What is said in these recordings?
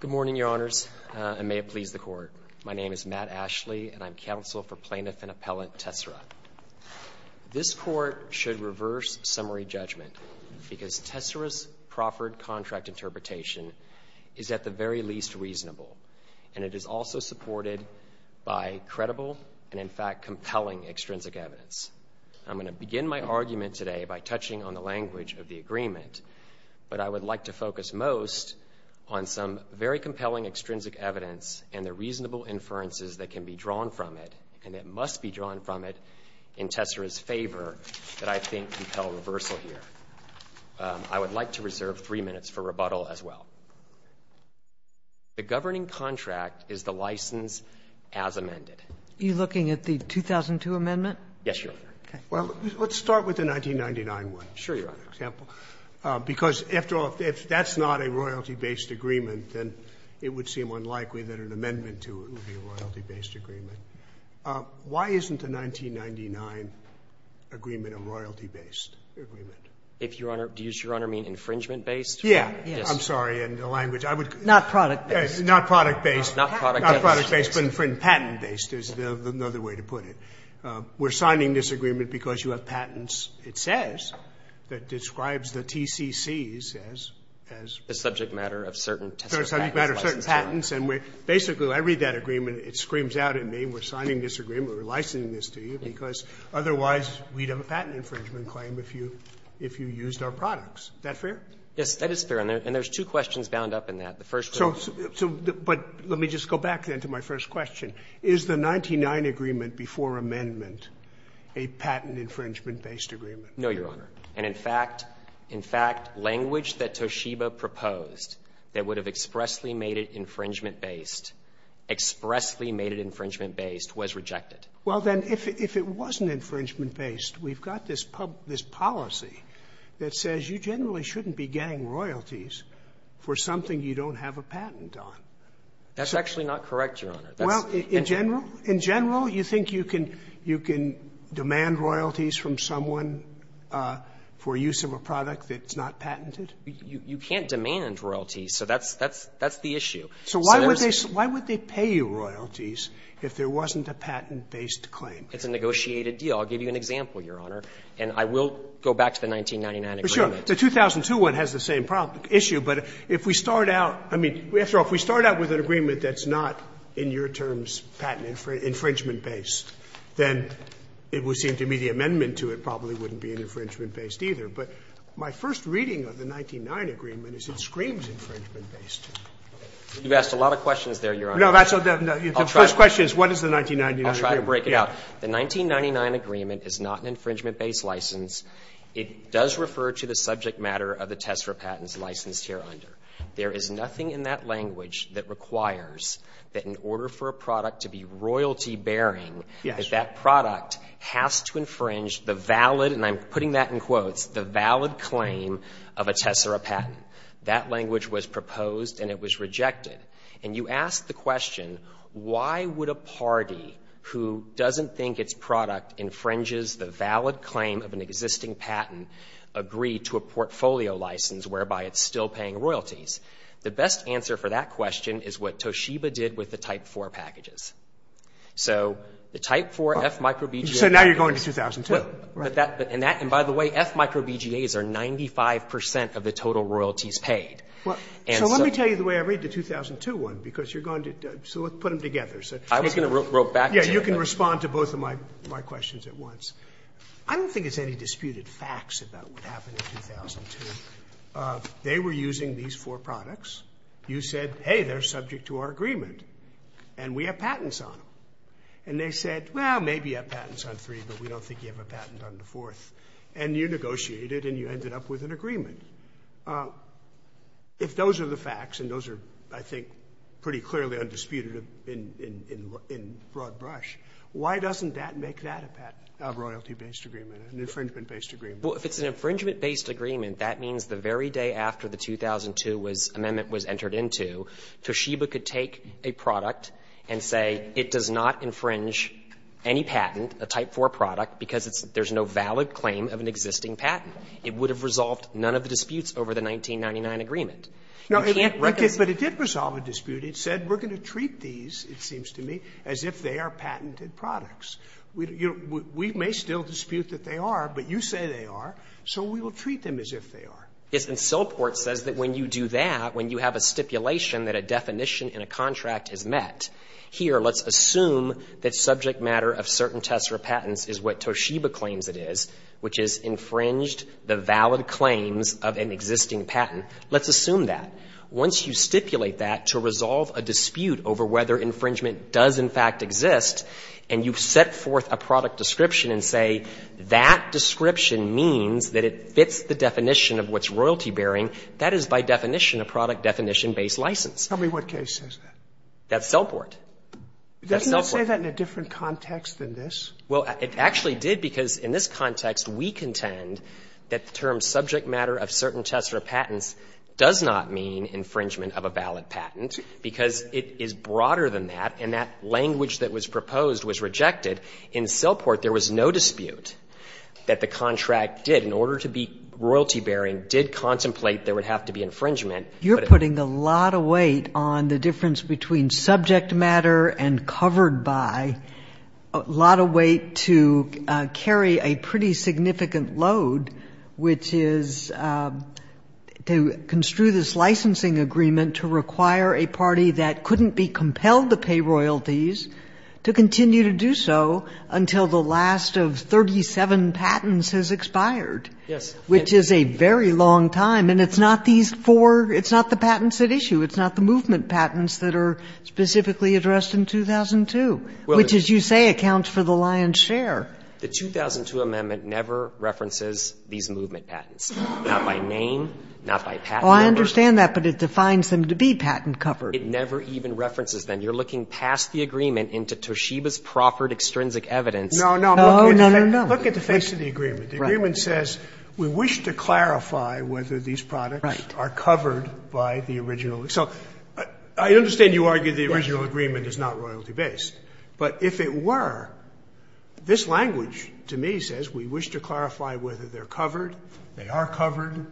Good morning, Your Honors, and may it please the Court. My name is Matt Ashley, and I'm counsel for plaintiff and appellant Tessera. This Court should reverse summary judgment because Tessera's proffered contract interpretation is at the very least reasonable, and it is also supported by credible and, in fact, compelling extrinsic evidence. I'm going to begin my argument today by touching on the language of the agreement, but I would like to focus most on some very compelling extrinsic evidence and the reasonable inferences that can be drawn from it, and that must be drawn from it, in Tessera's favor that I think compel reversal here. I would like to reserve three minutes for rebuttal as well. The governing contract is the license as amended. Are you looking at the 2002 amendment? Yes, Your Honor. Okay. Well, let's start with the 1999 one. Sure, Your Honor. For example, because after all, if that's not a royalty-based agreement, then it would seem unlikely that an amendment to it would be a royalty-based agreement. Why isn't the 1999 agreement a royalty-based agreement? If, Your Honor, do you, Your Honor, mean infringement-based? Yeah. Yes. I'm sorry, and the language. Not product-based. Not product-based. Not product-based. Not product-based, but patent-based is another way to put it. We're signing this agreement because you have patents. It says that describes the TCCs as, as. The subject matter of certain test or patent license. The subject matter of certain patents, and we're basically, I read that agreement, it screams out at me, we're signing this agreement, we're licensing this to you because otherwise we'd have a patent infringement claim if you, if you used our products. Is that fair? Yes, that is fair, and there's two questions bound up in that. The first. So, so, but let me just go back then to my first question. Is the 99 agreement before amendment a patent infringement-based agreement? No, Your Honor. And in fact, in fact, language that Toshiba proposed that would have expressly made it infringement-based, expressly made it infringement-based was rejected. Well, then, if, if it wasn't infringement-based, we've got this pub, this policy that says you generally shouldn't be getting royalties for something you don't have a patent on. That's actually not correct, Your Honor. Well, in general, in general, you think you can, you can demand royalties from someone for use of a product that's not patented? You can't demand royalties, so that's, that's, that's the issue. So why would they, why would they pay you royalties if there wasn't a patent-based claim? It's a negotiated deal. I'll give you an example, Your Honor, and I will go back to the 1999 agreement. Sure. The 2002 one has the same problem, issue, but if we start out, I mean, after all, if we start out with an agreement that's not, in your terms, patent infringement based, then it would seem to me the amendment to it probably wouldn't be an infringement based either. But my first reading of the 1999 agreement is it screams infringement-based. You've asked a lot of questions there, Your Honor. No, that's what the first question is, what is the 1999 agreement? I'll try to break it out. The 1999 agreement is not an infringement-based license. It does refer to the subject matter of the test for patents licensed hereunder. There is nothing in that language that requires that in order for a product to be royalty-bearing, that that product has to infringe the valid, and I'm putting that in quotes, the valid claim of a Tessera patent. That language was proposed and it was rejected. And you ask the question, why would a party who doesn't think its product infringes the valid claim of an existing patent agree to a portfolio license whereby it's still paying royalties, the best answer for that question is what Toshiba did with the Type IV packages. So the Type IV F micro BGAs is going to 2002. And by the way, F micro BGAs are 95 percent of the total royalties paid. So let me tell you the way I read the 2002 one, because you're going to put them together. I was going to rope back to you. You can respond to both of my questions at once. I don't think it's any disputed facts about what happened in 2002. They were using these four products. You said, hey, they're subject to our agreement. And we have patents on them. And they said, well, maybe you have patents on three, but we don't think you have a patent on the fourth. And you negotiated and you ended up with an agreement. If those are the facts, and those are, I think, pretty clearly undisputed in broad brush, why doesn't that make that a royalty-based agreement, an infringement-based agreement? Well, if it's an infringement-based agreement, that means the very day after the 2002 was amendment was entered into, Toshiba could take a product and say it does not infringe any patent, a Type IV product, because it's no valid claim of an existing patent. It would have resolved none of the disputes over the 1999 agreement. You can't reconcile. But it did resolve a dispute. It said we're going to treat these, it seems to me, as if they are patented products. We may still dispute that they are, but you say they are, so we will treat them as if they are. Yes. And Silport says that when you do that, when you have a stipulation that a definition in a contract is met, here, let's assume that subject matter of certain Tessera patents is what Toshiba claims it is, which is infringed the valid claims of an existing patent. Let's assume that. And you've set forth a product description and say that description means that it fits the definition of what's royalty bearing. That is, by definition, a product definition-based license. Tell me what case says that. That's Silport. Doesn't it say that in a different context than this? Well, it actually did, because in this context, we contend that the term subject matter of certain Tessera patents does not mean infringement of a valid patent, because it is broader than that, and that language that was proposed was rejected. In Silport, there was no dispute that the contract did, in order to be royalty bearing, did contemplate there would have to be infringement. You're putting a lot of weight on the difference between subject matter and covered by, a lot of weight to carry a pretty significant load, which is to construe this licensing agreement to require a party that couldn't be compelled to pay royalties to continue to do so until the last of 37 patents has expired, which is a very long time. And it's not these four, it's not the patents at issue, it's not the movement patents that are specifically addressed in 2002, which, as you say, accounts for the lion's share. The 2002 amendment never references these movement patents, not by name, not by patent number. Sotomayor, I understand that, but it defines them to be patent covered. It never even references them. You're looking past the agreement into Toshiba's proffered extrinsic evidence. No, no. No, no, no. Look at the face of the agreement. The agreement says we wish to clarify whether these products are covered by the original. So I understand you argue the original agreement is not royalty based, but if it were, this language to me says we wish to clarify whether they're covered, they are covered,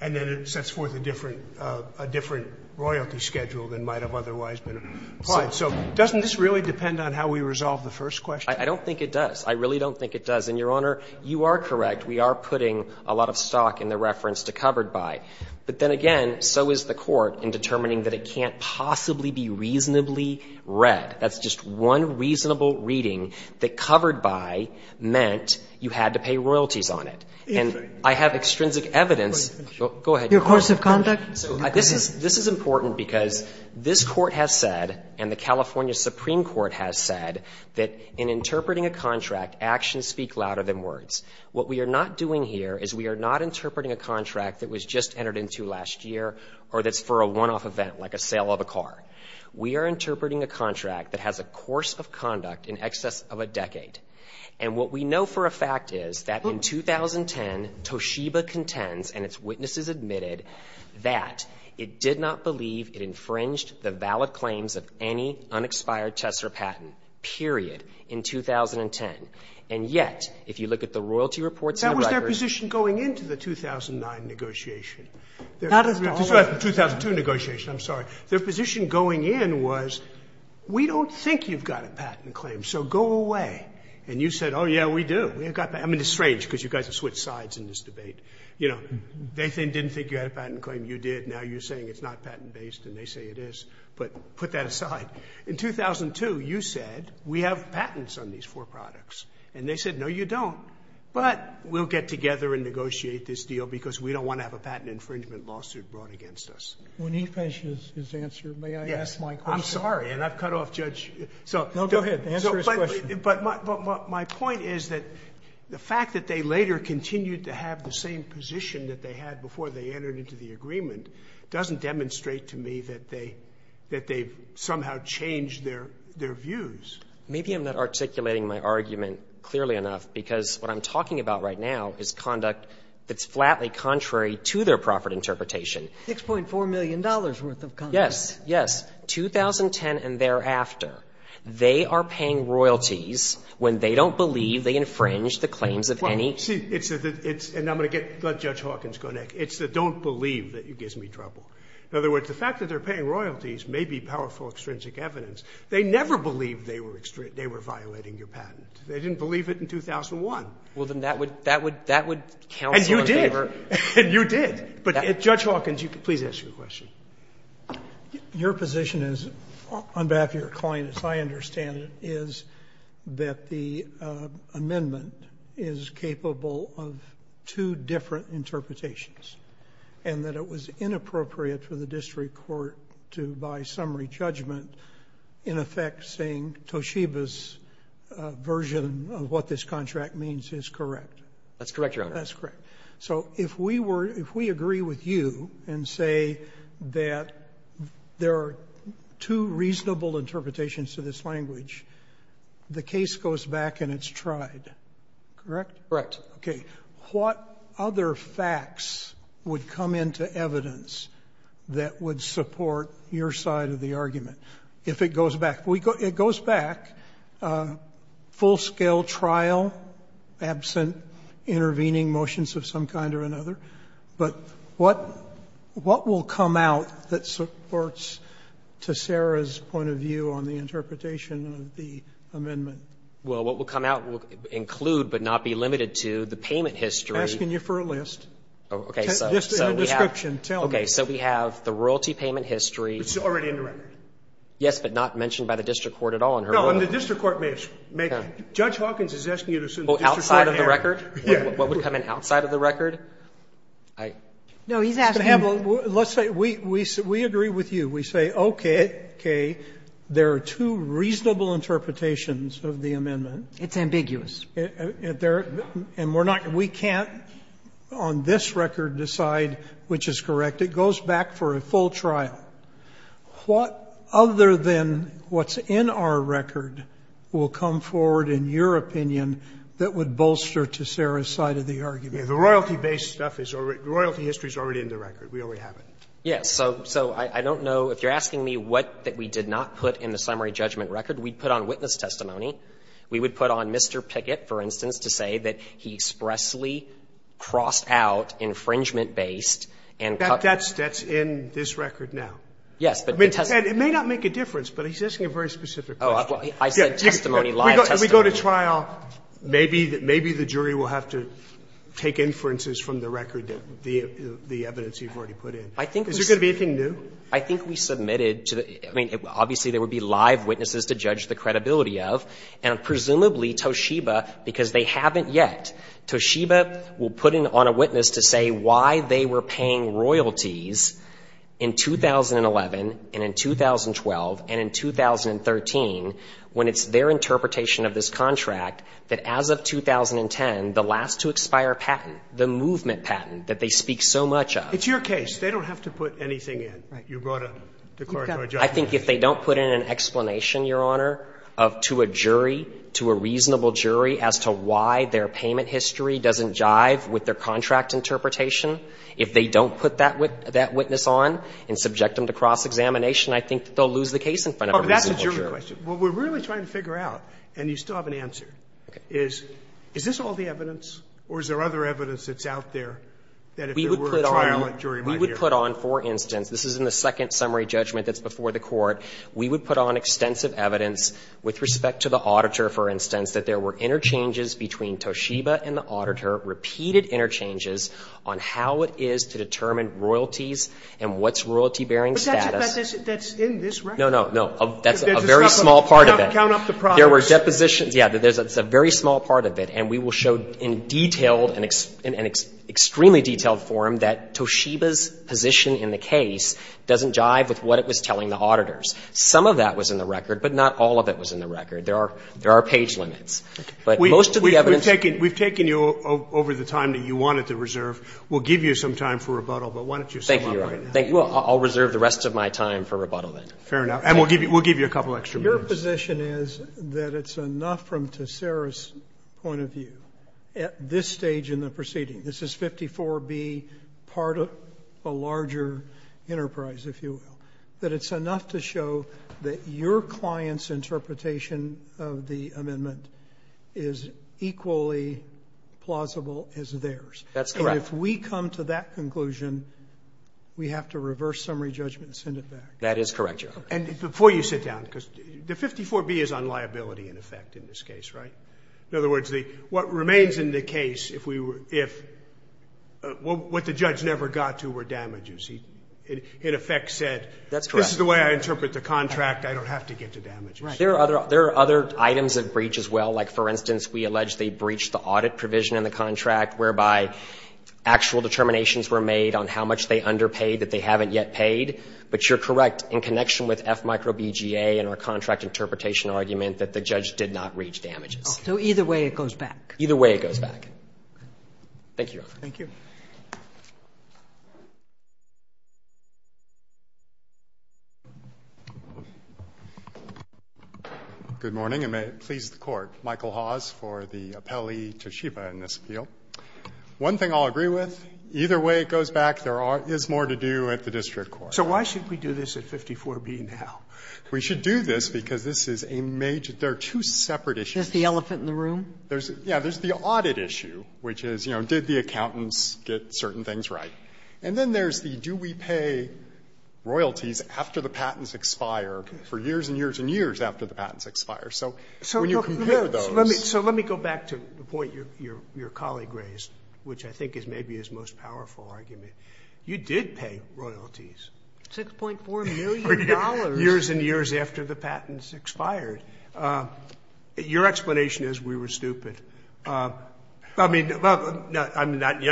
and then it sets forth a different royalty schedule than might have otherwise been applied. So doesn't this really depend on how we resolve the first question? I don't think it does. I really don't think it does. And, Your Honor, you are correct. We are putting a lot of stock in the reference to covered by. But then again, so is the Court in determining that it can't possibly be reasonably read. That's just one reasonable reading that covered by meant you had to pay royalties on it. And I have extrinsic evidence. Go ahead. Your course of conduct. This is important because this Court has said and the California Supreme Court has said that in interpreting a contract, actions speak louder than words. What we are not doing here is we are not interpreting a contract that was just entered into last year or that's for a one-off event like a sale of a car. We are interpreting a contract that has a course of conduct in excess of a decade. And what we know for a fact is that in 2010, Toshiba contends and its witnesses admitted that it did not believe it infringed the valid claims of any unexpired Chesser patent, period, in 2010. And yet, if you look at the royalty reports in the record. That was their position going into the 2009 negotiation. That is the old one. The 2002 negotiation. I'm sorry. Their position going in was we don't think you've got a patent claim, so go away. And you said, oh, yeah, we do. I mean, it's strange because you guys have switched sides in this debate. You know, they didn't think you had a patent claim, you did. Now you're saying it's not patent based and they say it is. But put that aside. In 2002, you said we have patents on these four products. And they said, no, you don't. But we'll get together and negotiate this deal because we don't want to have a patent infringement lawsuit brought against us. When he finishes his answer, may I ask my question? I'm sorry, and I've cut off Judge. No, go ahead, answer his question. But my point is that the fact that they later continued to have the same position that they had before they entered into the agreement doesn't demonstrate to me that they've somehow changed their views. Maybe I'm not articulating my argument clearly enough because what I'm talking about right now is conduct that's flatly contrary to their profit interpretation. $6.4 million worth of conduct. Yes, yes. In 2010 and thereafter, they are paying royalties when they don't believe they infringed the claims of any. Well, see, it's the – and I'm going to get – let Judge Hawkins go next. It's the don't believe that gives me trouble. In other words, the fact that they're paying royalties may be powerful extrinsic evidence. They never believed they were violating your patent. They didn't believe it in 2001. Well, then that would – that would counsel and favor. And you did. And you did. But Judge Hawkins, please ask your question. Your position is, on behalf of your client, as I understand it, is that the amendment is capable of two different interpretations and that it was inappropriate for the district court to, by summary judgment, in effect, saying Toshiba's version of what this contract means is correct. That's correct, Your Honor. That's correct. So if we were – if we agree with you and say that there are two reasonable interpretations to this language, the case goes back and it's tried, correct? Correct. Okay. What other facts would come into evidence that would support your side of the argument if it goes back? It goes back, full-scale trial, absent intervening motions of some kind or another. But what will come out that supports, to Sarah's point of view, on the interpretation of the amendment? Well, what will come out will include, but not be limited to, the payment history. I'm asking you for a list. Okay. So we have the royalty payment history. It's already in the record. Yes, but not mentioned by the district court at all in her ruling. No, and the district court may have – Judge Hawkins is asking you to assume the district court may have it. Well, outside of the record, what would come in outside of the record? No, he's asking you to – Mr. Hamill, let's say we agree with you. We say, okay, there are two reasonable interpretations of the amendment. It's ambiguous. And we're not – we can't on this record decide which is correct. It goes back for a full trial. What other than what's in our record will come forward in your opinion that would bolster to Sarah's side of the argument? The royalty-based stuff is already – the royalty history is already in the record. We already have it. Yes. So I don't know – if you're asking me what that we did not put in the summary judgment record, we'd put on witness testimony. We would put on Mr. Pickett, for instance, to say that he expressly crossed out infringement-based and cut – But that's in this record now. Yes, but the testimony – It may not make a difference, but he's asking a very specific question. Oh, I said testimony, live testimony. If we go to trial, maybe the jury will have to take inferences from the record that the evidence you've already put in. I think we – Is there going to be anything new? I think we submitted to the – I mean, obviously, there would be live witnesses to judge the credibility of. And presumably, Toshiba, because they haven't yet, Toshiba will put in on a witness to say why they were paying royalties in 2011 and in 2012 and in 2013 when it's their interpretation of this contract that as of 2010, the last to expire patent, the movement patent that they speak so much of – It's your case. They don't have to put anything in. You brought up the court – I think if they don't put in an explanation, Your Honor, of – to a jury, to a reasonable jury as to why their payment history doesn't jive with their contract interpretation, if they don't put that witness on and subject them to cross-examination, I think they'll lose the case in front of a reasonable jury. But that's a jury question. What we're really trying to figure out, and you still have an answer, is, is this all the evidence or is there other evidence that's out there that if there were a trial, a jury might hear? We would put on, for instance, this is in the second summary judgment that's before the Court, we would put on extensive evidence with respect to the auditor, for instance, that there were interchanges between Toshiba and the auditor, repeated interchanges on how it is to determine royalties and what's royalty-bearing status. But that's in this record. No, no, no. That's a very small part of it. There's a count up to progress. There were depositions – yeah, it's a very small part of it. And we will show in detailed and extremely detailed form that Toshiba's position in the case doesn't jive with what it was telling the auditors. Some of that was in the record, but not all of it was in the record. There are page limits. But most of the evidence – We've taken you over the time that you wanted to reserve. We'll give you some time for rebuttal, but why don't you sum up right now? Thank you, Your Honor. I'll reserve the rest of my time for rebuttal then. Fair enough. And we'll give you a couple extra minutes. Your position is that it's enough from Tessera's point of view at this stage in the proceeding, this is 54B, part of a larger enterprise, if you will, that it's enough to show that your client's interpretation of the amendment is equally plausible as theirs. That's correct. And if we come to that conclusion, we have to reverse summary judgment and send it back. That is correct, Your Honor. And before you sit down, because the 54B is on liability, in effect, in this case, right? In other words, what remains in the case, if we were – what the judge never got to were damages. He, in effect, said – That's correct. This is the way I interpret the contract. I don't have to get to damages. Right. There are other – there are other items of breach as well. Like, for instance, we allege they breached the audit provision in the contract, whereby actual determinations were made on how much they underpaid that they haven't yet paid. But you're correct, in connection with F micro BGA and our contract interpretation argument, that the judge did not reach damages. Okay. So either way it goes back. Either way it goes back. Thank you, Your Honor. Thank you. Good morning, and may it please the Court. Michael Hawes for the appellee, Toshiba, in this appeal. One thing I'll agree with, either way it goes back, there is more to do at the district court. So why should we do this at 54B now? We should do this because this is a major – there are two separate issues. There's the elephant in the room? There's – yeah, there's the audit issue, which is, you know, did the accountants get certain things right? And then there's the do we pay royalties after the patents expire for years and years and years after the patents expire? So when you compare those – So let me go back to the point your colleague raised, which I think is maybe his most powerful argument. You did pay royalties. $6.4 million. Years and years after the patents expired. Your explanation is we were stupid. I mean, I'm not you,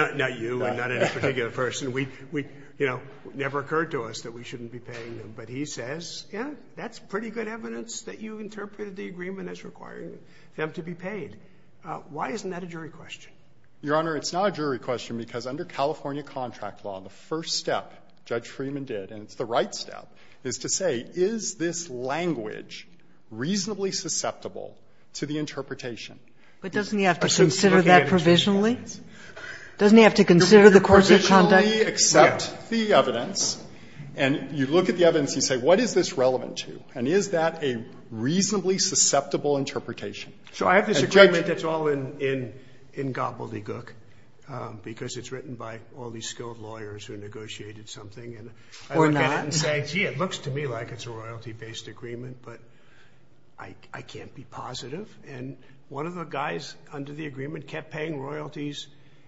I'm not any particular person. We, you know, it never occurred to us that we shouldn't be paying them. But he says, yeah, that's pretty good evidence that you interpreted the agreement as requiring them to be paid. Why isn't that a jury question? Your Honor, it's not a jury question because under California contract law, the first step Judge Freeman did, and it's the right step, is to say, is this language reasonably susceptible to the interpretation? But doesn't he have to consider that provisionally? Doesn't he have to consider the course of conduct? You provisionally accept the evidence, and you look at the evidence and you say, what is this relevant to? And is that a reasonably susceptible interpretation? So I have this agreement that's all in gobbledygook because it's written by all these skilled lawyers who negotiated something. Or not. And I look at it and say, gee, it looks to me like it's a royalty-based agreement, but I can't be positive. And one of the guys under the agreement kept paying royalties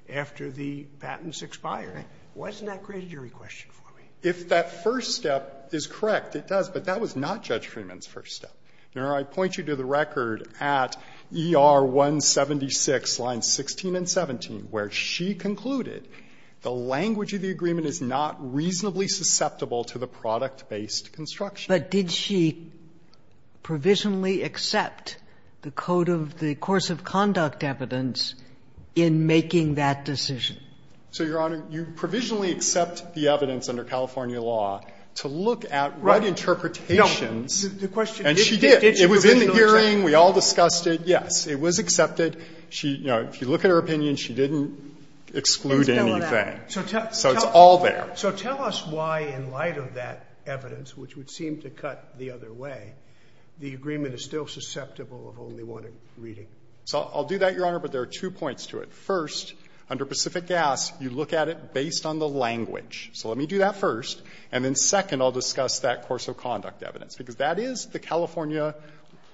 after the patents expired. Why isn't that a great jury question for me? If that first step is correct, it does, but that was not Judge Freeman's first step. Your Honor, I point you to the record at ER 176, lines 16 and 17, where she concluded the language of the agreement is not reasonably susceptible to the product-based construction. But did she provisionally accept the code of the course of conduct evidence in making that decision? So, Your Honor, you provisionally accept the evidence under California law to look at what interpretations. The question is, did she provisionally accept it? And she did. It was in the hearing. We all discussed it. Yes. It was accepted. She, you know, if you look at her opinion, she didn't exclude anything. So it's all there. So tell us why, in light of that evidence, which would seem to cut the other way, the agreement is still susceptible of only one reading. So I'll do that, Your Honor, but there are two points to it. First, under Pacific Gas, you look at it based on the language. So let me do that first. And then second, I'll discuss that course of conduct evidence, because that is the California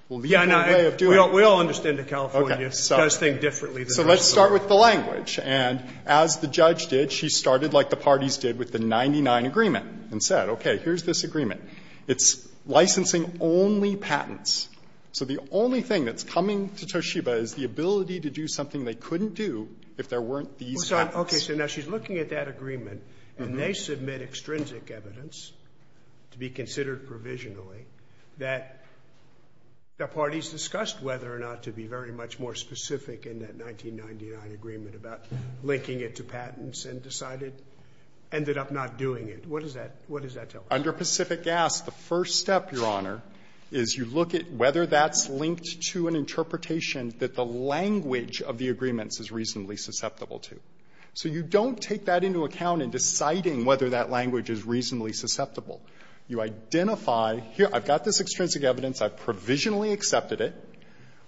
legal way of doing it. Yeah, no, we all understand that California does think differently than us. So let's start with the language. And as the judge did, she started like the parties did with the 99 agreement and said, okay, here's this agreement. It's licensing only patents. So the only thing that's coming to Toshiba is the ability to do something they couldn't do if there weren't these patents. Okay. So now she's looking at that agreement, and they submit extrinsic evidence to be considered provisionally that the parties discussed whether or not to be very much more specific in that 1999 agreement about linking it to patents and decided, ended up not doing it. What does that tell us? Under Pacific Gas, the first step, Your Honor, is you look at whether that's linked to an interpretation that the language of the agreements is reasonably susceptible to. So you don't take that into account in deciding whether that language is reasonably susceptible. You identify, here, I've got this extrinsic evidence, I've provisionally accepted it.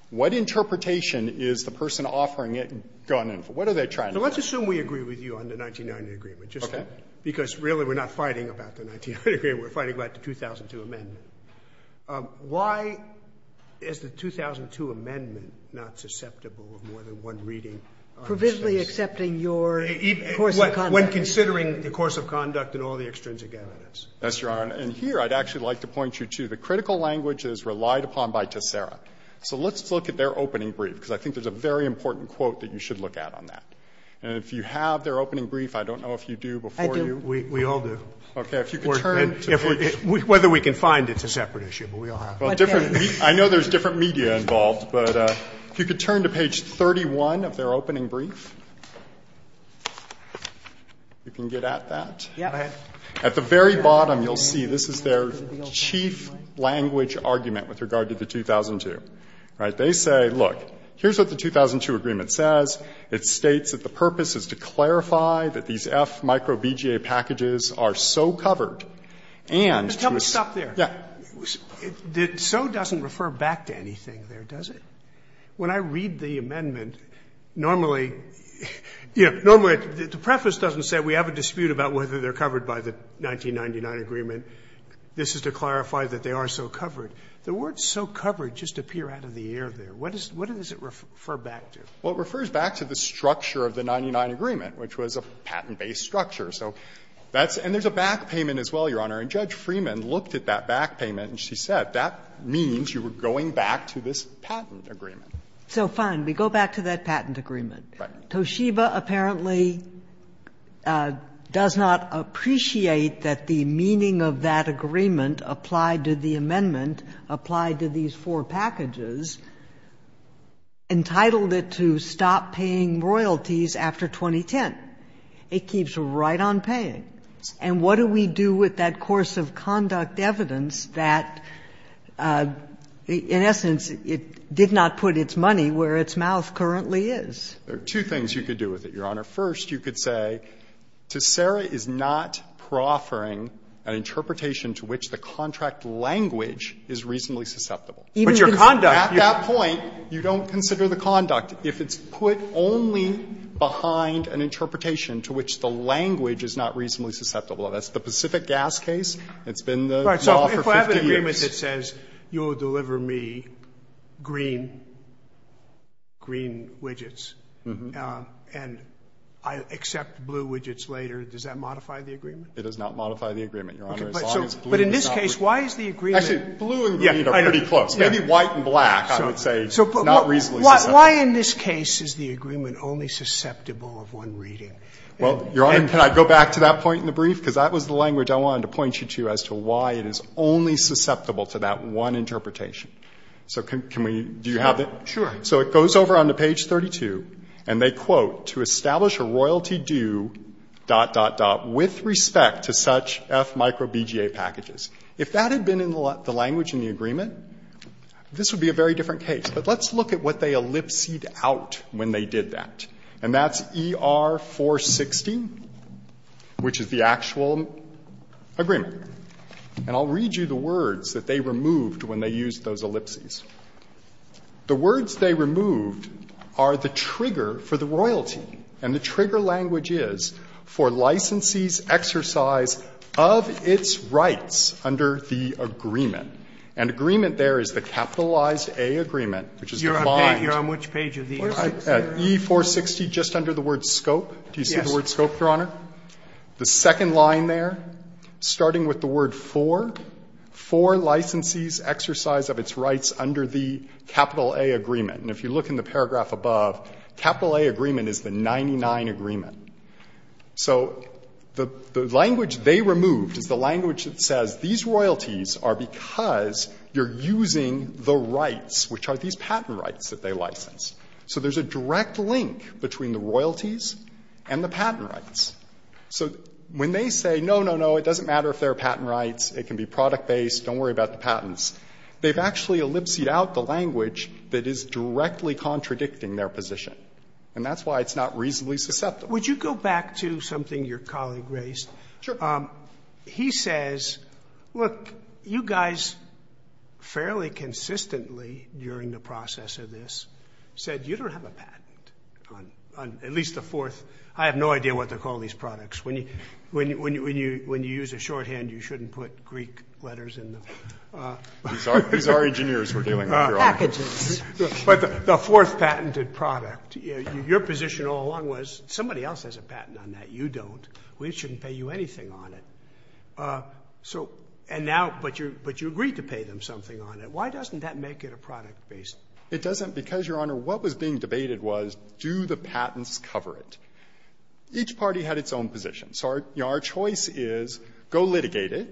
What interpretation is the person offering it going to infer? What are they trying to say? Sotomayor, so let's assume we agree with you on the 1990 agreement. Okay. Because, really, we're not fighting about the 1990 agreement. We're fighting about the 2002 amendment. Why is the 2002 amendment not susceptible of more than one reading on this case? Provisionally accepting your course of conduct. When considering the course of conduct and all the extrinsic evidence. Yes, Your Honor. And here, I'd actually like to point you to the critical language that is relied upon by Tessera. So let's look at their opening brief, because I think there's a very important quote that you should look at on that. And if you have their opening brief, I don't know if you do before you. I do. We all do. Okay. Whether we can find it's a separate issue, but we all have it. I know there's different media involved, but if you could turn to page 31 of their opening brief, you can get at that. Go ahead. At the very bottom, you'll see, this is their chief language argument with regard to the 2002, right? They say, look, here's what the 2002 agreement says. It states that the purpose is to clarify that these F micro BGA packages are so covered and to assume. But tell me, stop there. Yeah. So doesn't refer back to anything there, does it? When I read the amendment, normally, you know, normally the preface doesn't say we have a dispute about whether they're covered by the 1999 agreement. This is to clarify that they are so covered. The words so covered just appear out of the air there. What does it refer back to? Well, it refers back to the structure of the 1999 agreement, which was a patent-based So that's and there's a back payment as well, Your Honor. And Judge Freeman looked at that back payment and she said that means you were going back to this patent agreement. So fine. We go back to that patent agreement. Right. Toshiba apparently does not appreciate that the meaning of that agreement applied to the amendment, applied to these four packages, entitled it to stop paying royalties after 2010. It keeps right on paying. And what do we do with that course of conduct evidence that, in essence, it did not put its money where its mouth currently is? There are two things you could do with it, Your Honor. First, you could say to Sarah is not proffering an interpretation to which the contract language is reasonably susceptible. But your conduct. At that point, you don't consider the conduct. If it's put only behind an interpretation to which the language is not reasonably susceptible, that's the Pacific Gas case. It's been the law for 50 years. So if I have an agreement that says you will deliver me green widgets and I'll accept blue widgets later, does that modify the agreement? It does not modify the agreement, Your Honor. But in this case, why is the agreement? Actually, blue and green are pretty close. Maybe white and black, I would say, is not reasonably susceptible. Why in this case is the agreement only susceptible of one reading? Well, Your Honor, can I go back to that point in the brief? Because that was the language I wanted to point you to as to why it is only susceptible to that one interpretation. So can we do you have it? Sure. So it goes over onto page 32, and they quote, to establish a royalty due, dot, dot, dot, with respect to such F micro BGA packages. If that had been in the language in the agreement, this would be a very different case. But let's look at what they ellipsed out when they did that. And that's ER-460, which is the actual agreement. And I'll read you the words that they removed when they used those ellipses. The words they removed are the trigger for the royalty, and the trigger language is for licensees' exercise of its rights under the agreement. And agreement there is the capitalized A agreement, which is the bind. Scalia, E-460, just under the word scope. Do you see the word scope, Your Honor? The second line there, starting with the word for, for licensees' exercise of its rights under the capital A agreement. And if you look in the paragraph above, capital A agreement is the 99 agreement. So the language they removed is the language that says these royalties are because you're using the rights, which are these patent rights that they license. So there's a direct link between the royalties and the patent rights. So when they say, no, no, no, it doesn't matter if they're patent rights, it can be product-based, don't worry about the patents. They've actually ellipsed out the language that is directly contradicting their position. And that's why it's not reasonably susceptible. Sotomayor, Would you go back to something your colleague raised? Fisher, Sure. Sotomayor, He says, look, you guys fairly consistently during the process of this said you don't have a patent on at least the fourth. I have no idea what they call these products. When you use a shorthand, you shouldn't put Greek letters in them. Fisher, These are engineers we're dealing with, Your Honor. Sotomayor, Packages. Sotomayor, But the fourth patented product, your position all along was, somebody else has a patent on that, you don't. We shouldn't pay you anything on it. So, and now, but you agreed to pay them something on it. Why doesn't that make it a product-based? Fisher, It doesn't because, Your Honor, what was being debated was, do the patents cover it? Each party had its own position. So our choice is, go litigate it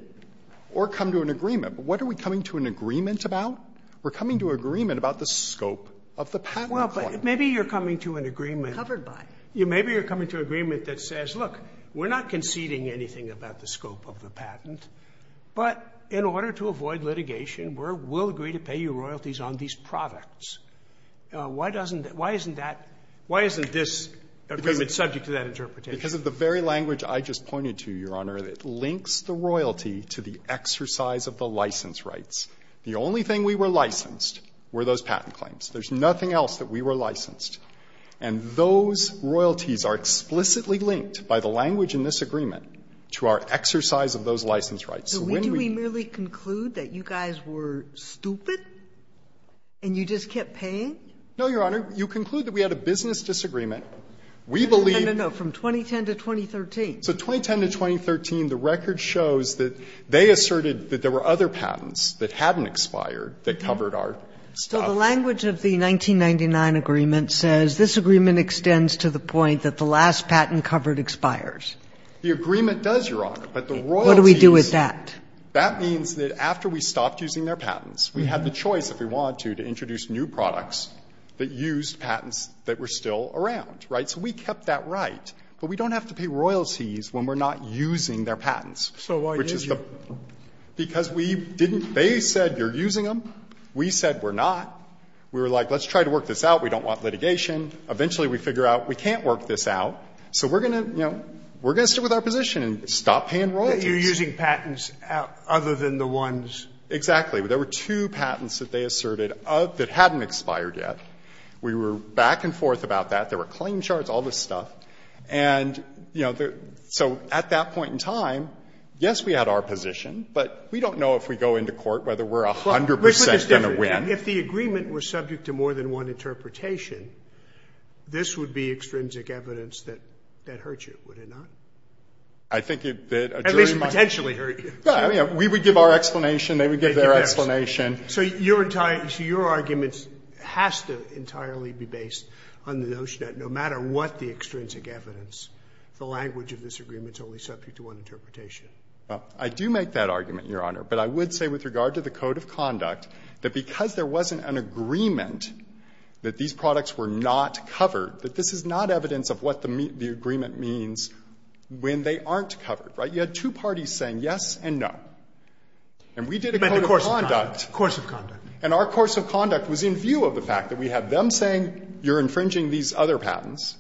or come to an agreement. But what are we coming to an agreement about? We're coming to an agreement about the scope of the patent. Scalia, Well, but maybe you're coming to an agreement. Sotomayor, Covered by. Scalia, Maybe you're coming to an agreement that says, look, we're not conceding anything about the scope of the patent, but in order to avoid litigation, we'll agree to pay you royalties on these products. Why doesn't that why isn't that, why isn't this agreement subject to that interpretation? Fisher, Because of the very language I just pointed to, Your Honor, it links the royalty to the exercise of the license rights. The only thing we were licensed were those patent claims. There's nothing else that we were licensed. And those royalties are explicitly linked by the language in this agreement to our exercise of those license rights. So when we. Sotomayor, Do we merely conclude that you guys were stupid and you just kept paying? Fisher, No, Your Honor. You conclude that we had a business disagreement. We believe. Sotomayor, No, no, no. From 2010 to 2013. Fisher, So 2010 to 2013, the record shows that they asserted that there were other patents that hadn't expired that covered our stuff. Sotomayor, So the language of the 1999 agreement says this agreement extends to the point that the last patent covered expires. Fisher, The agreement does, Your Honor, but the royalties. Sotomayor, What do we do with that? Fisher, That means that after we stopped using their patents, we had the choice, if we wanted to, to introduce new products that used patents that were still around. Right? So we kept that right, but we don't have to pay royalties when we're not using Sotomayor, So why didn't you? Fisher, Because we didn't they said you're using them, we said we're not. We were like let's try to work this out, we don't want litigation. Eventually we figure out we can't work this out, so we're going to, you know, we're going to stick with our position and stop paying royalties. Sotomayor, You're using patents other than the ones. Fisher, Exactly. There were two patents that they asserted that hadn't expired yet. We were back and forth about that. There were claim charts, all this stuff. And, you know, so at that point in time, yes, we had our position, but we don't know if we go into court whether we're 100 percent going to win. Scalia, If the agreement was subject to more than one interpretation, this would be extrinsic evidence that hurt you, would it not? Fisher, I think that a jury might. Scalia, At least potentially hurt you. Fisher, Yeah, we would give our explanation, they would give their explanation. Sotomayor, So your entire argument has to entirely be based on the notion that no matter what the extrinsic evidence, the language of this agreement is only subject to one interpretation. Fisher, I do make that argument, Your Honor, but I would say with regard to the code of conduct, that because there wasn't an agreement that these products were not covered, that this is not evidence of what the agreement means when they aren't covered, right? You had two parties saying yes and no. And we did a code of conduct. Sotomayor, Course of conduct. Fisher, And our course of conduct was in view of the fact that we had them saying you're infringing these other patents.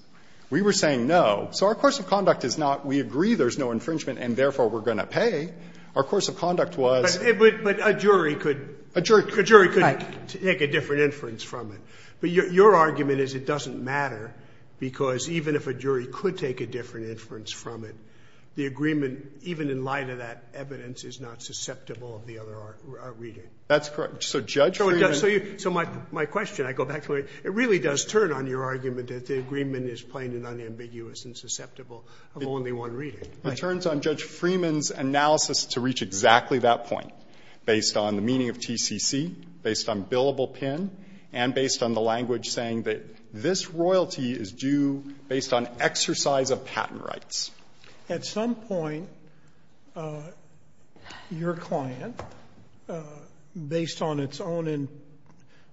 We were saying no. So our course of conduct is not we agree there's no infringement and therefore we're going to pay. Our course of conduct was. Sotomayor, But a jury could take a different inference from it. But your argument is it doesn't matter, because even if a jury could take a different inference from it, the agreement, even in light of that evidence, is not susceptible of the other reading. Fisher, That's correct. So Judge Freeman. Sotomayor, So my question, I go back to it, it really does turn on your argument that the agreement is plain and unambiguous and susceptible of only one reading. Fisher, It turns on Judge Freeman's analysis to reach exactly that point, based on the meaning of TCC, based on billable PIN, and based on the language saying that this royalty is due based on exercise of patent rights. At some point, your client, based on its own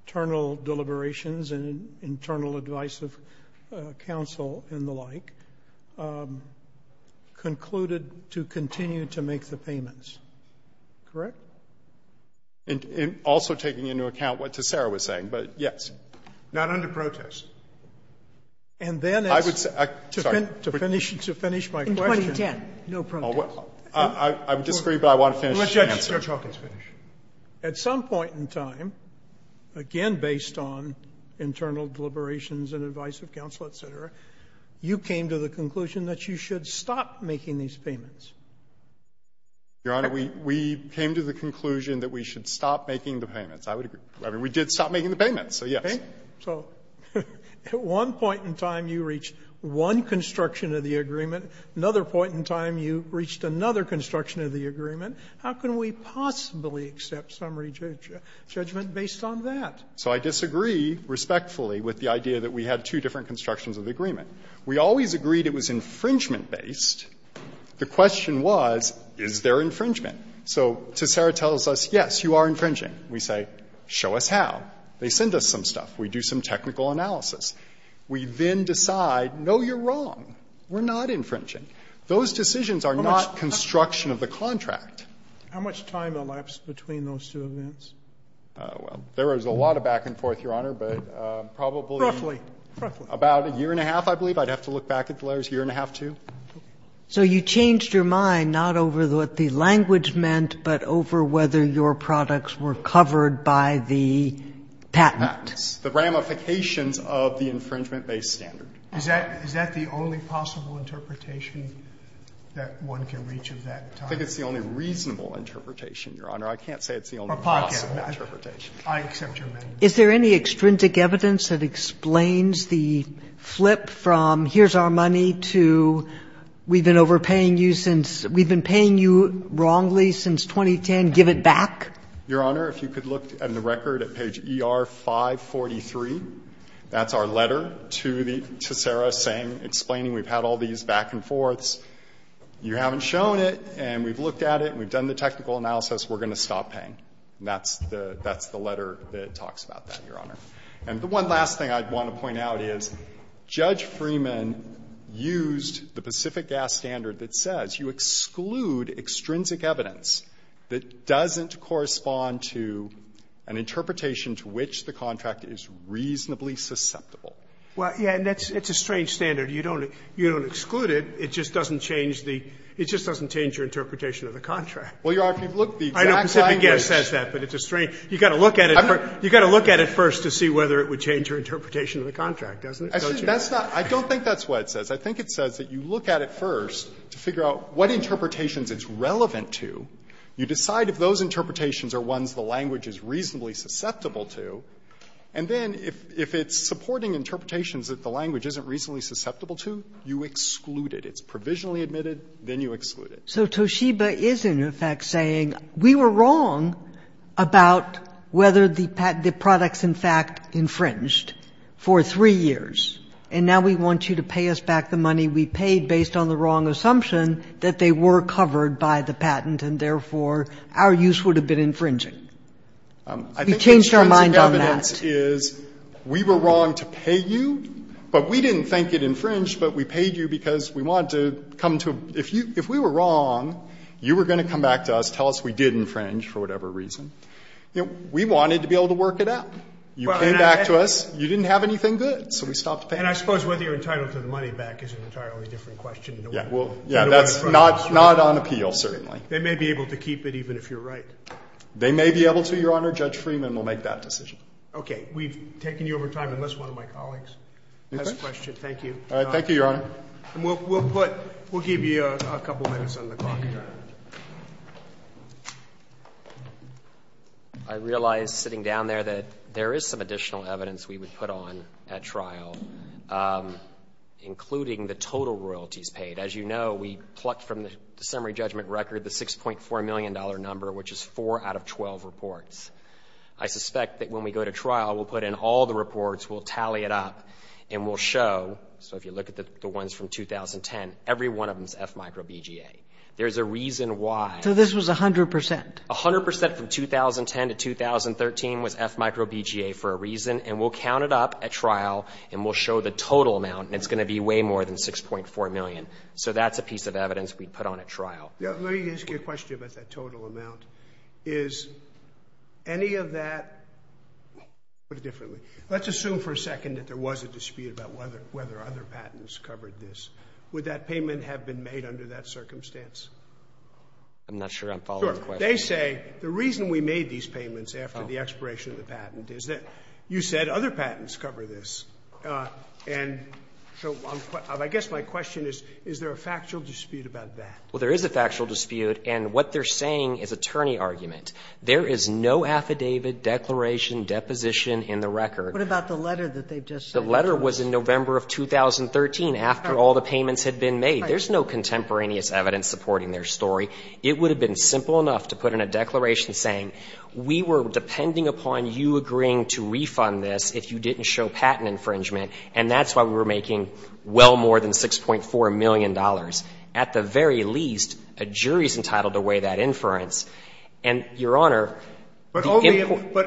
internal deliberations and internal advice of counsel and the like, concluded to continue to make the payments. Correct? Fisher, Also taking into account what Tessera was saying, but yes. Breyer, Not under protest. Fisher, And then it's to finish my point. Sotomayor, In 2010, no protest. Fisher, I disagree, but I want to finish my answer. Breyer, Let Judge Hawkins finish. At some point in time, again based on internal deliberations and advice of counsel, et cetera, you came to the conclusion that you should stop making these payments. Fisher, Your Honor, we came to the conclusion that we should stop making the payments. I would agree. I mean, we did stop making the payments, so yes. Sotomayor, So at one point in time, you reached one construction of the agreement. Another point in time, you reached another construction of the agreement. How can we possibly accept summary judgment based on that? Fisher, So I disagree respectfully with the idea that we had two different constructions of the agreement. We always agreed it was infringement-based. The question was, is there infringement? So Tessera tells us, yes, you are infringing. We say, show us how. They send us some stuff. We do some technical analysis. We then decide, no, you're wrong. We're not infringing. Those decisions are not construction of the contract. Sotomayor, How much time elapsed between those two events? Fisher, Well, there was a lot of back and forth, Your Honor, but probably about a year and a half, I believe. I'd have to look back at the letters, a year and a half, too. Sotomayor, So you changed your mind not over what the language meant, but over whether your products were covered by the patent. Fisher, The ramifications of the infringement-based standard. Sotomayor, Is that the only possible interpretation that one can reach at that time? Fisher, I think it's the only reasonable interpretation, Your Honor. I can't say it's the only possible interpretation. Sotomayor, I accept your amendment. Sotomayor, Is there any extrinsic evidence that explains the flip from here's our money to we've been overpaying you since we've been paying you wrongly since 2010, give it back? Fisher, Your Honor, if you could look in the record at page ER543, that's our letter to the to Sarah saying, explaining we've had all these back and forths. You haven't shown it, and we've looked at it, and we've done the technical analysis. We're going to stop paying. And that's the letter that talks about that, Your Honor. And the one last thing I'd want to point out is Judge Freeman used the Pacific gas standard that says you exclude extrinsic evidence that doesn't correspond to an interpretation to which the contract is reasonably susceptible. Well, yeah, and that's a strange standard. You don't exclude it. It just doesn't change the – it just doesn't change your interpretation of the contract. Well, Your Honor, if you look at the exact language. I know Pacific gas says that, but it's a strange – you've got to look at it. You've got to look at it first to see whether it would change your interpretation of the contract, doesn't it, don't you? That's not – I don't think that's what it says. I think it says that you look at it first to figure out what interpretations it's relevant to. You decide if those interpretations are ones the language is reasonably susceptible to, and then if it's supporting interpretations that the language isn't reasonably susceptible to, you exclude it. It's provisionally admitted, then you exclude it. So Toshiba is, in effect, saying we were wrong about whether the products, in fact, infringed for 3 years. And now we want you to pay us back the money we paid based on the wrong assumption that they were covered by the patent and, therefore, our use would have been infringing. We changed our mind on that. I think the strength of evidence is we were wrong to pay you, but we didn't think it infringed, but we paid you because we wanted to come to a – if you – if we were wrong, you were going to come back to us, tell us we did infringe for whatever reason. We wanted to be able to work it out. You came back to us, you didn't have anything good. So we stopped paying you. Scalia. And I suppose whether you're entitled to the money back is an entirely different question. We'll get away from that. Fisher. Yeah. That's not on appeal, certainly. Scalia. They may be able to keep it even if you're right. Fisher. They may be able to, Your Honor. Judge Freeman will make that decision. Scalia. Okay. We've taken you over time, unless one of my colleagues has a question. Thank you. Fisher. Thank you, Your Honor. Scalia. And we'll put – we'll give you a couple minutes on the clock. I realize, sitting down there, that there is some additional evidence we would put on at trial, including the total royalties paid. As you know, we plucked from the summary judgment record the $6.4 million number, which is four out of 12 reports. I suspect that when we go to trial, we'll put in all the reports, we'll tally it up, and we'll show – so if you look at the ones from 2010, every one of them is FMICRO-BGA. There's a reason why. So this was 100 percent? A hundred percent from 2010 to 2013 was FMICRO-BGA for a reason. And we'll count it up at trial, and we'll show the total amount. And it's going to be way more than $6.4 million. So that's a piece of evidence we'd put on at trial. Let me ask you a question about that total amount. Is any of that – let's put it differently. Let's assume for a second that there was a dispute about whether other patents covered this. Would that payment have been made under that circumstance? I'm not sure I'm following the question. Sure. They say the reason we made these payments after the expiration of the patent is that you said other patents cover this. And so I guess my question is, is there a factual dispute about that? Well, there is a factual dispute. And what they're saying is attorney argument. There is no affidavit, declaration, deposition in the record. What about the letter that they've just sent? The letter was in November of 2013 after all the payments had been made. There's no contemporaneous evidence supporting their story. It would have been simple enough to put in a declaration saying, we were depending upon you agreeing to refund this if you didn't show patent infringement, and that's why we were making well more than $6.4 million. At the very least, a jury's entitled to weigh that inference. And, Your Honor – But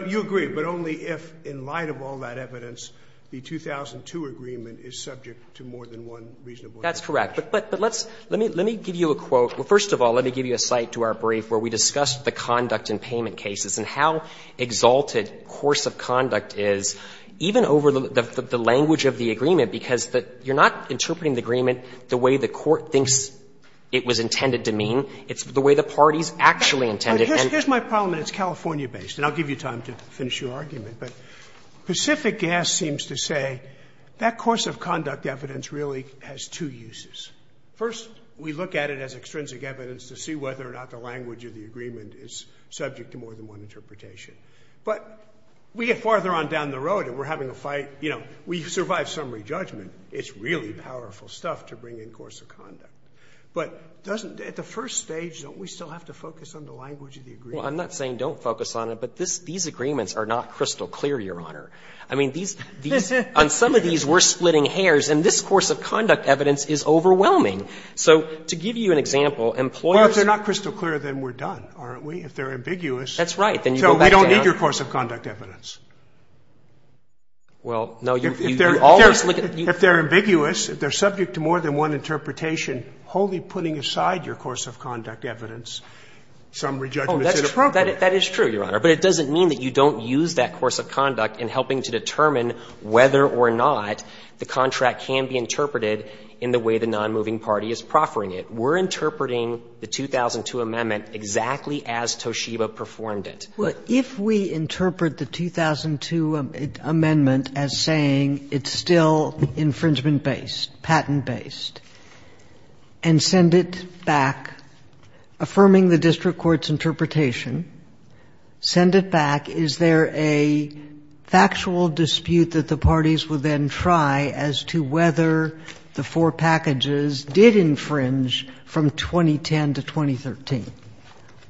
you agree, but only if, in light of all that evidence, the 2002 agreement is subject to more than one reasonable – That's correct. But let's – let me give you a quote. Well, first of all, let me give you a cite to our brief where we discussed the conduct and payment cases and how exalted course of conduct is, even over the language of the agreement, because you're not interpreting the agreement the way the court thinks it was intended to mean. It's the way the parties actually intended. Here's my problem, and it's California-based, and I'll give you time to finish your argument. But Pacific Gas seems to say that course of conduct evidence really has two uses. First, we look at it as extrinsic evidence to see whether or not the language of the agreement is subject to more than one interpretation. But we get farther on down the road, and we're having a fight. You know, we survive summary judgment. It's really powerful stuff to bring in course of conduct. But doesn't – at the first stage, don't we still have to focus on the language of the agreement? Well, I'm not saying don't focus on it, but these agreements are not crystal clear, Your Honor. I mean, these – on some of these, we're splitting hairs, and this course of conduct evidence is overwhelming. So to give you an example, employers – Well, if they're not crystal clear, then we're done, aren't we? If they're ambiguous – That's right. Then you go back down – So we don't need your course of conduct evidence. Well, no, you always look at – If they're ambiguous, if they're subject to more than one interpretation, wholly putting aside your course of conduct evidence, summary judgment is inappropriate. That is true, Your Honor. But it doesn't mean that you don't use that course of conduct in helping to determine whether or not the contract can be interpreted in the way the nonmoving party is proffering it. We're interpreting the 2002 amendment exactly as Toshiba performed it. If we interpret the 2002 amendment as saying it's still infringement-based, patent-based, and send it back, affirming the district court's interpretation, send it back, is there a factual dispute that the parties will then try as to whether the four packages did infringe from 2010 to 2013?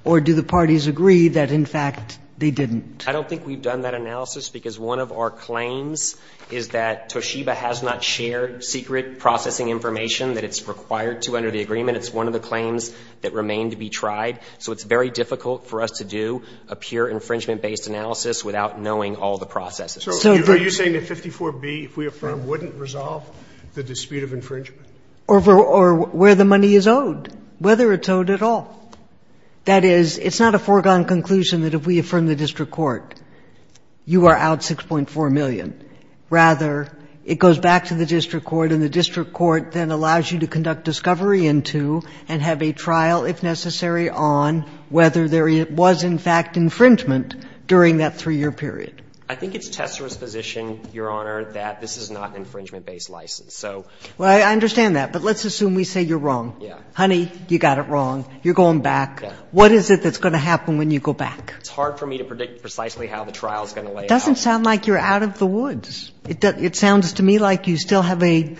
Or do the parties agree that, in fact, they didn't? I don't think we've done that analysis because one of our claims is that Toshiba has not shared secret processing information that it's required to under the agreement. It's one of the claims that remain to be tried. So it's very difficult for us to do a pure infringement-based analysis without knowing all the processes. So are you saying that 54B, if we affirm, wouldn't resolve the dispute of infringement? Or where the money is owed, whether it's owed at all. That is, it's not a foregone conclusion that if we affirm the district court, you are out $6.4 million. Rather, it goes back to the district court, and the district court then allows you to conduct discovery in two and have a trial, if necessary, on whether there was, in fact, infringement during that three-year period. I think it's Tessera's position, Your Honor, that this is not an infringement-based license. So — Well, I understand that. But let's assume we say you're wrong. Yeah. Honey, you got it wrong. You're going back. What is it that's going to happen when you go back? It's hard for me to predict precisely how the trial is going to lay out. It doesn't sound like you're out of the woods. It sounds to me like you still have a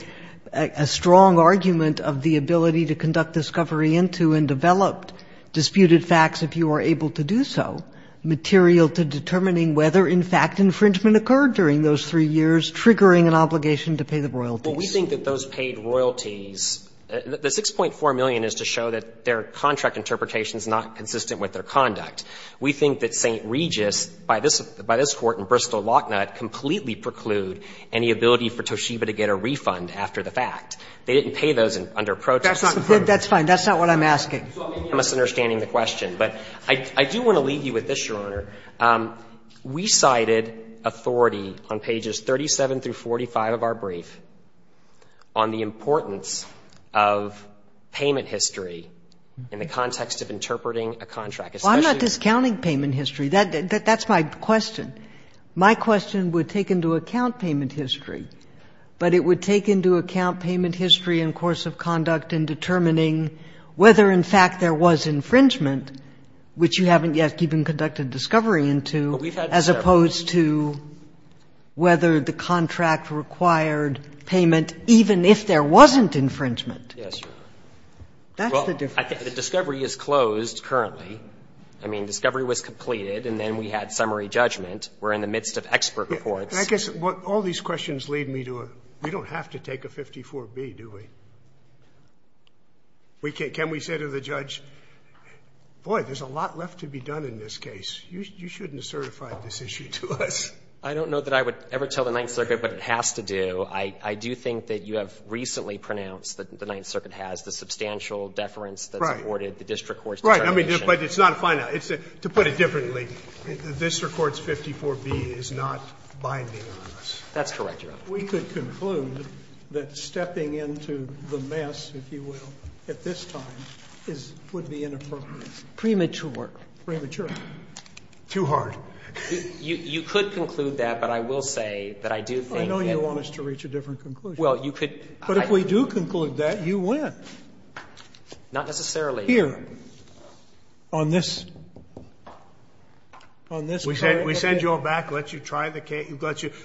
strong argument of the ability to conduct discovery into and developed disputed facts if you are able to do so, material to determining whether, in fact, infringement occurred during those three years, triggering an obligation to pay the royalties. Well, we think that those paid royalties, the $6.4 million is to show that there are contract interpretations not consistent with their conduct. We think that St. Regis, by this Court in Bristol-Lochnutt, completely preclude any ability for Toshiba to get a refund after the fact. They didn't pay those under protection. That's not what I'm asking. I'm misunderstanding the question. But I do want to leave you with this, Your Honor. We cited authority on pages 37 through 45 of our brief on the importance of payment history in the context of interpreting a contract. Well, I'm not discounting payment history. That's my question. My question would take into account payment history, but it would take into account payment history and course of conduct in determining whether, in fact, there was infringement, which you haven't yet even conducted discovery into, as opposed to whether the contract required payment even if there wasn't infringement. Yes, Your Honor. That's the difference. Well, I think the discovery is closed currently. I mean, discovery was completed, and then we had summary judgment. We're in the midst of expert reports. I guess what all these questions lead me to, we don't have to take a 54B, do we? Can we say to the judge, boy, there's a lot left to be done in this case. You shouldn't have certified this issue to us. I don't know that I would ever tell the Ninth Circuit what it has to do. I do think that you have recently pronounced that the Ninth Circuit has the substantial deference that's afforded the district court's determination. Right. But it's not a final – to put it differently, the district court's 54B is not binding on us. That's correct, Your Honor. We could conclude that stepping into the mess, if you will, at this time is – would be inappropriate. Premature. Premature. Too hard. You could conclude that, but I will say that I do think that the district court would reach a different conclusion. But if we do conclude that, you win. Not necessarily. Here, on this – on this case. We send you all back, let you try the case,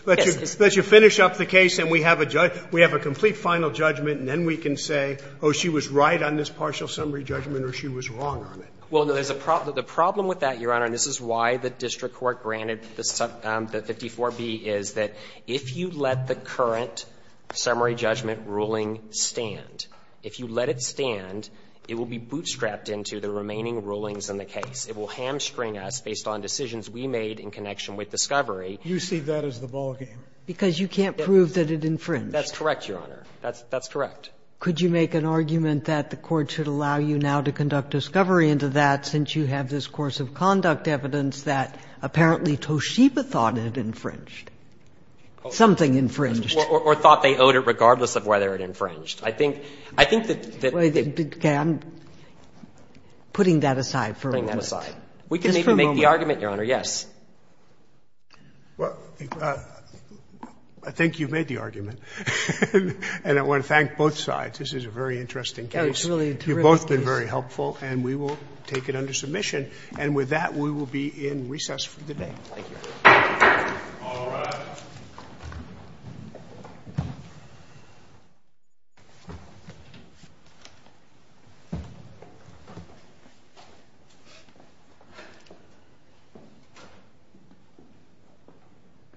let you finish up the case, and we have a judge – we have a complete final judgment, and then we can say, oh, she was right on this partial summary judgment or she was wrong on it. Well, there's a problem – the problem with that, Your Honor, and this is why the If you let it stand, it will be bootstrapped into the remaining rulings in the case. It will hamstring us based on decisions we made in connection with discovery. You see that as the ballgame. Because you can't prove that it infringed. That's correct, Your Honor. That's correct. Could you make an argument that the court should allow you now to conduct discovery into that since you have this course of conduct evidence that apparently Toshiba thought it infringed? Something infringed. Or thought they owed it regardless of whether it infringed. I think – I think that – Okay. I'm putting that aside for a moment. Putting that aside. We can maybe make the argument, Your Honor, yes. Well, I think you've made the argument, and I want to thank both sides. This is a very interesting case. It's really a terrific case. You've both been very helpful, and we will take it under submission. And with that, we will be in recess for the day. Thank you. All rise.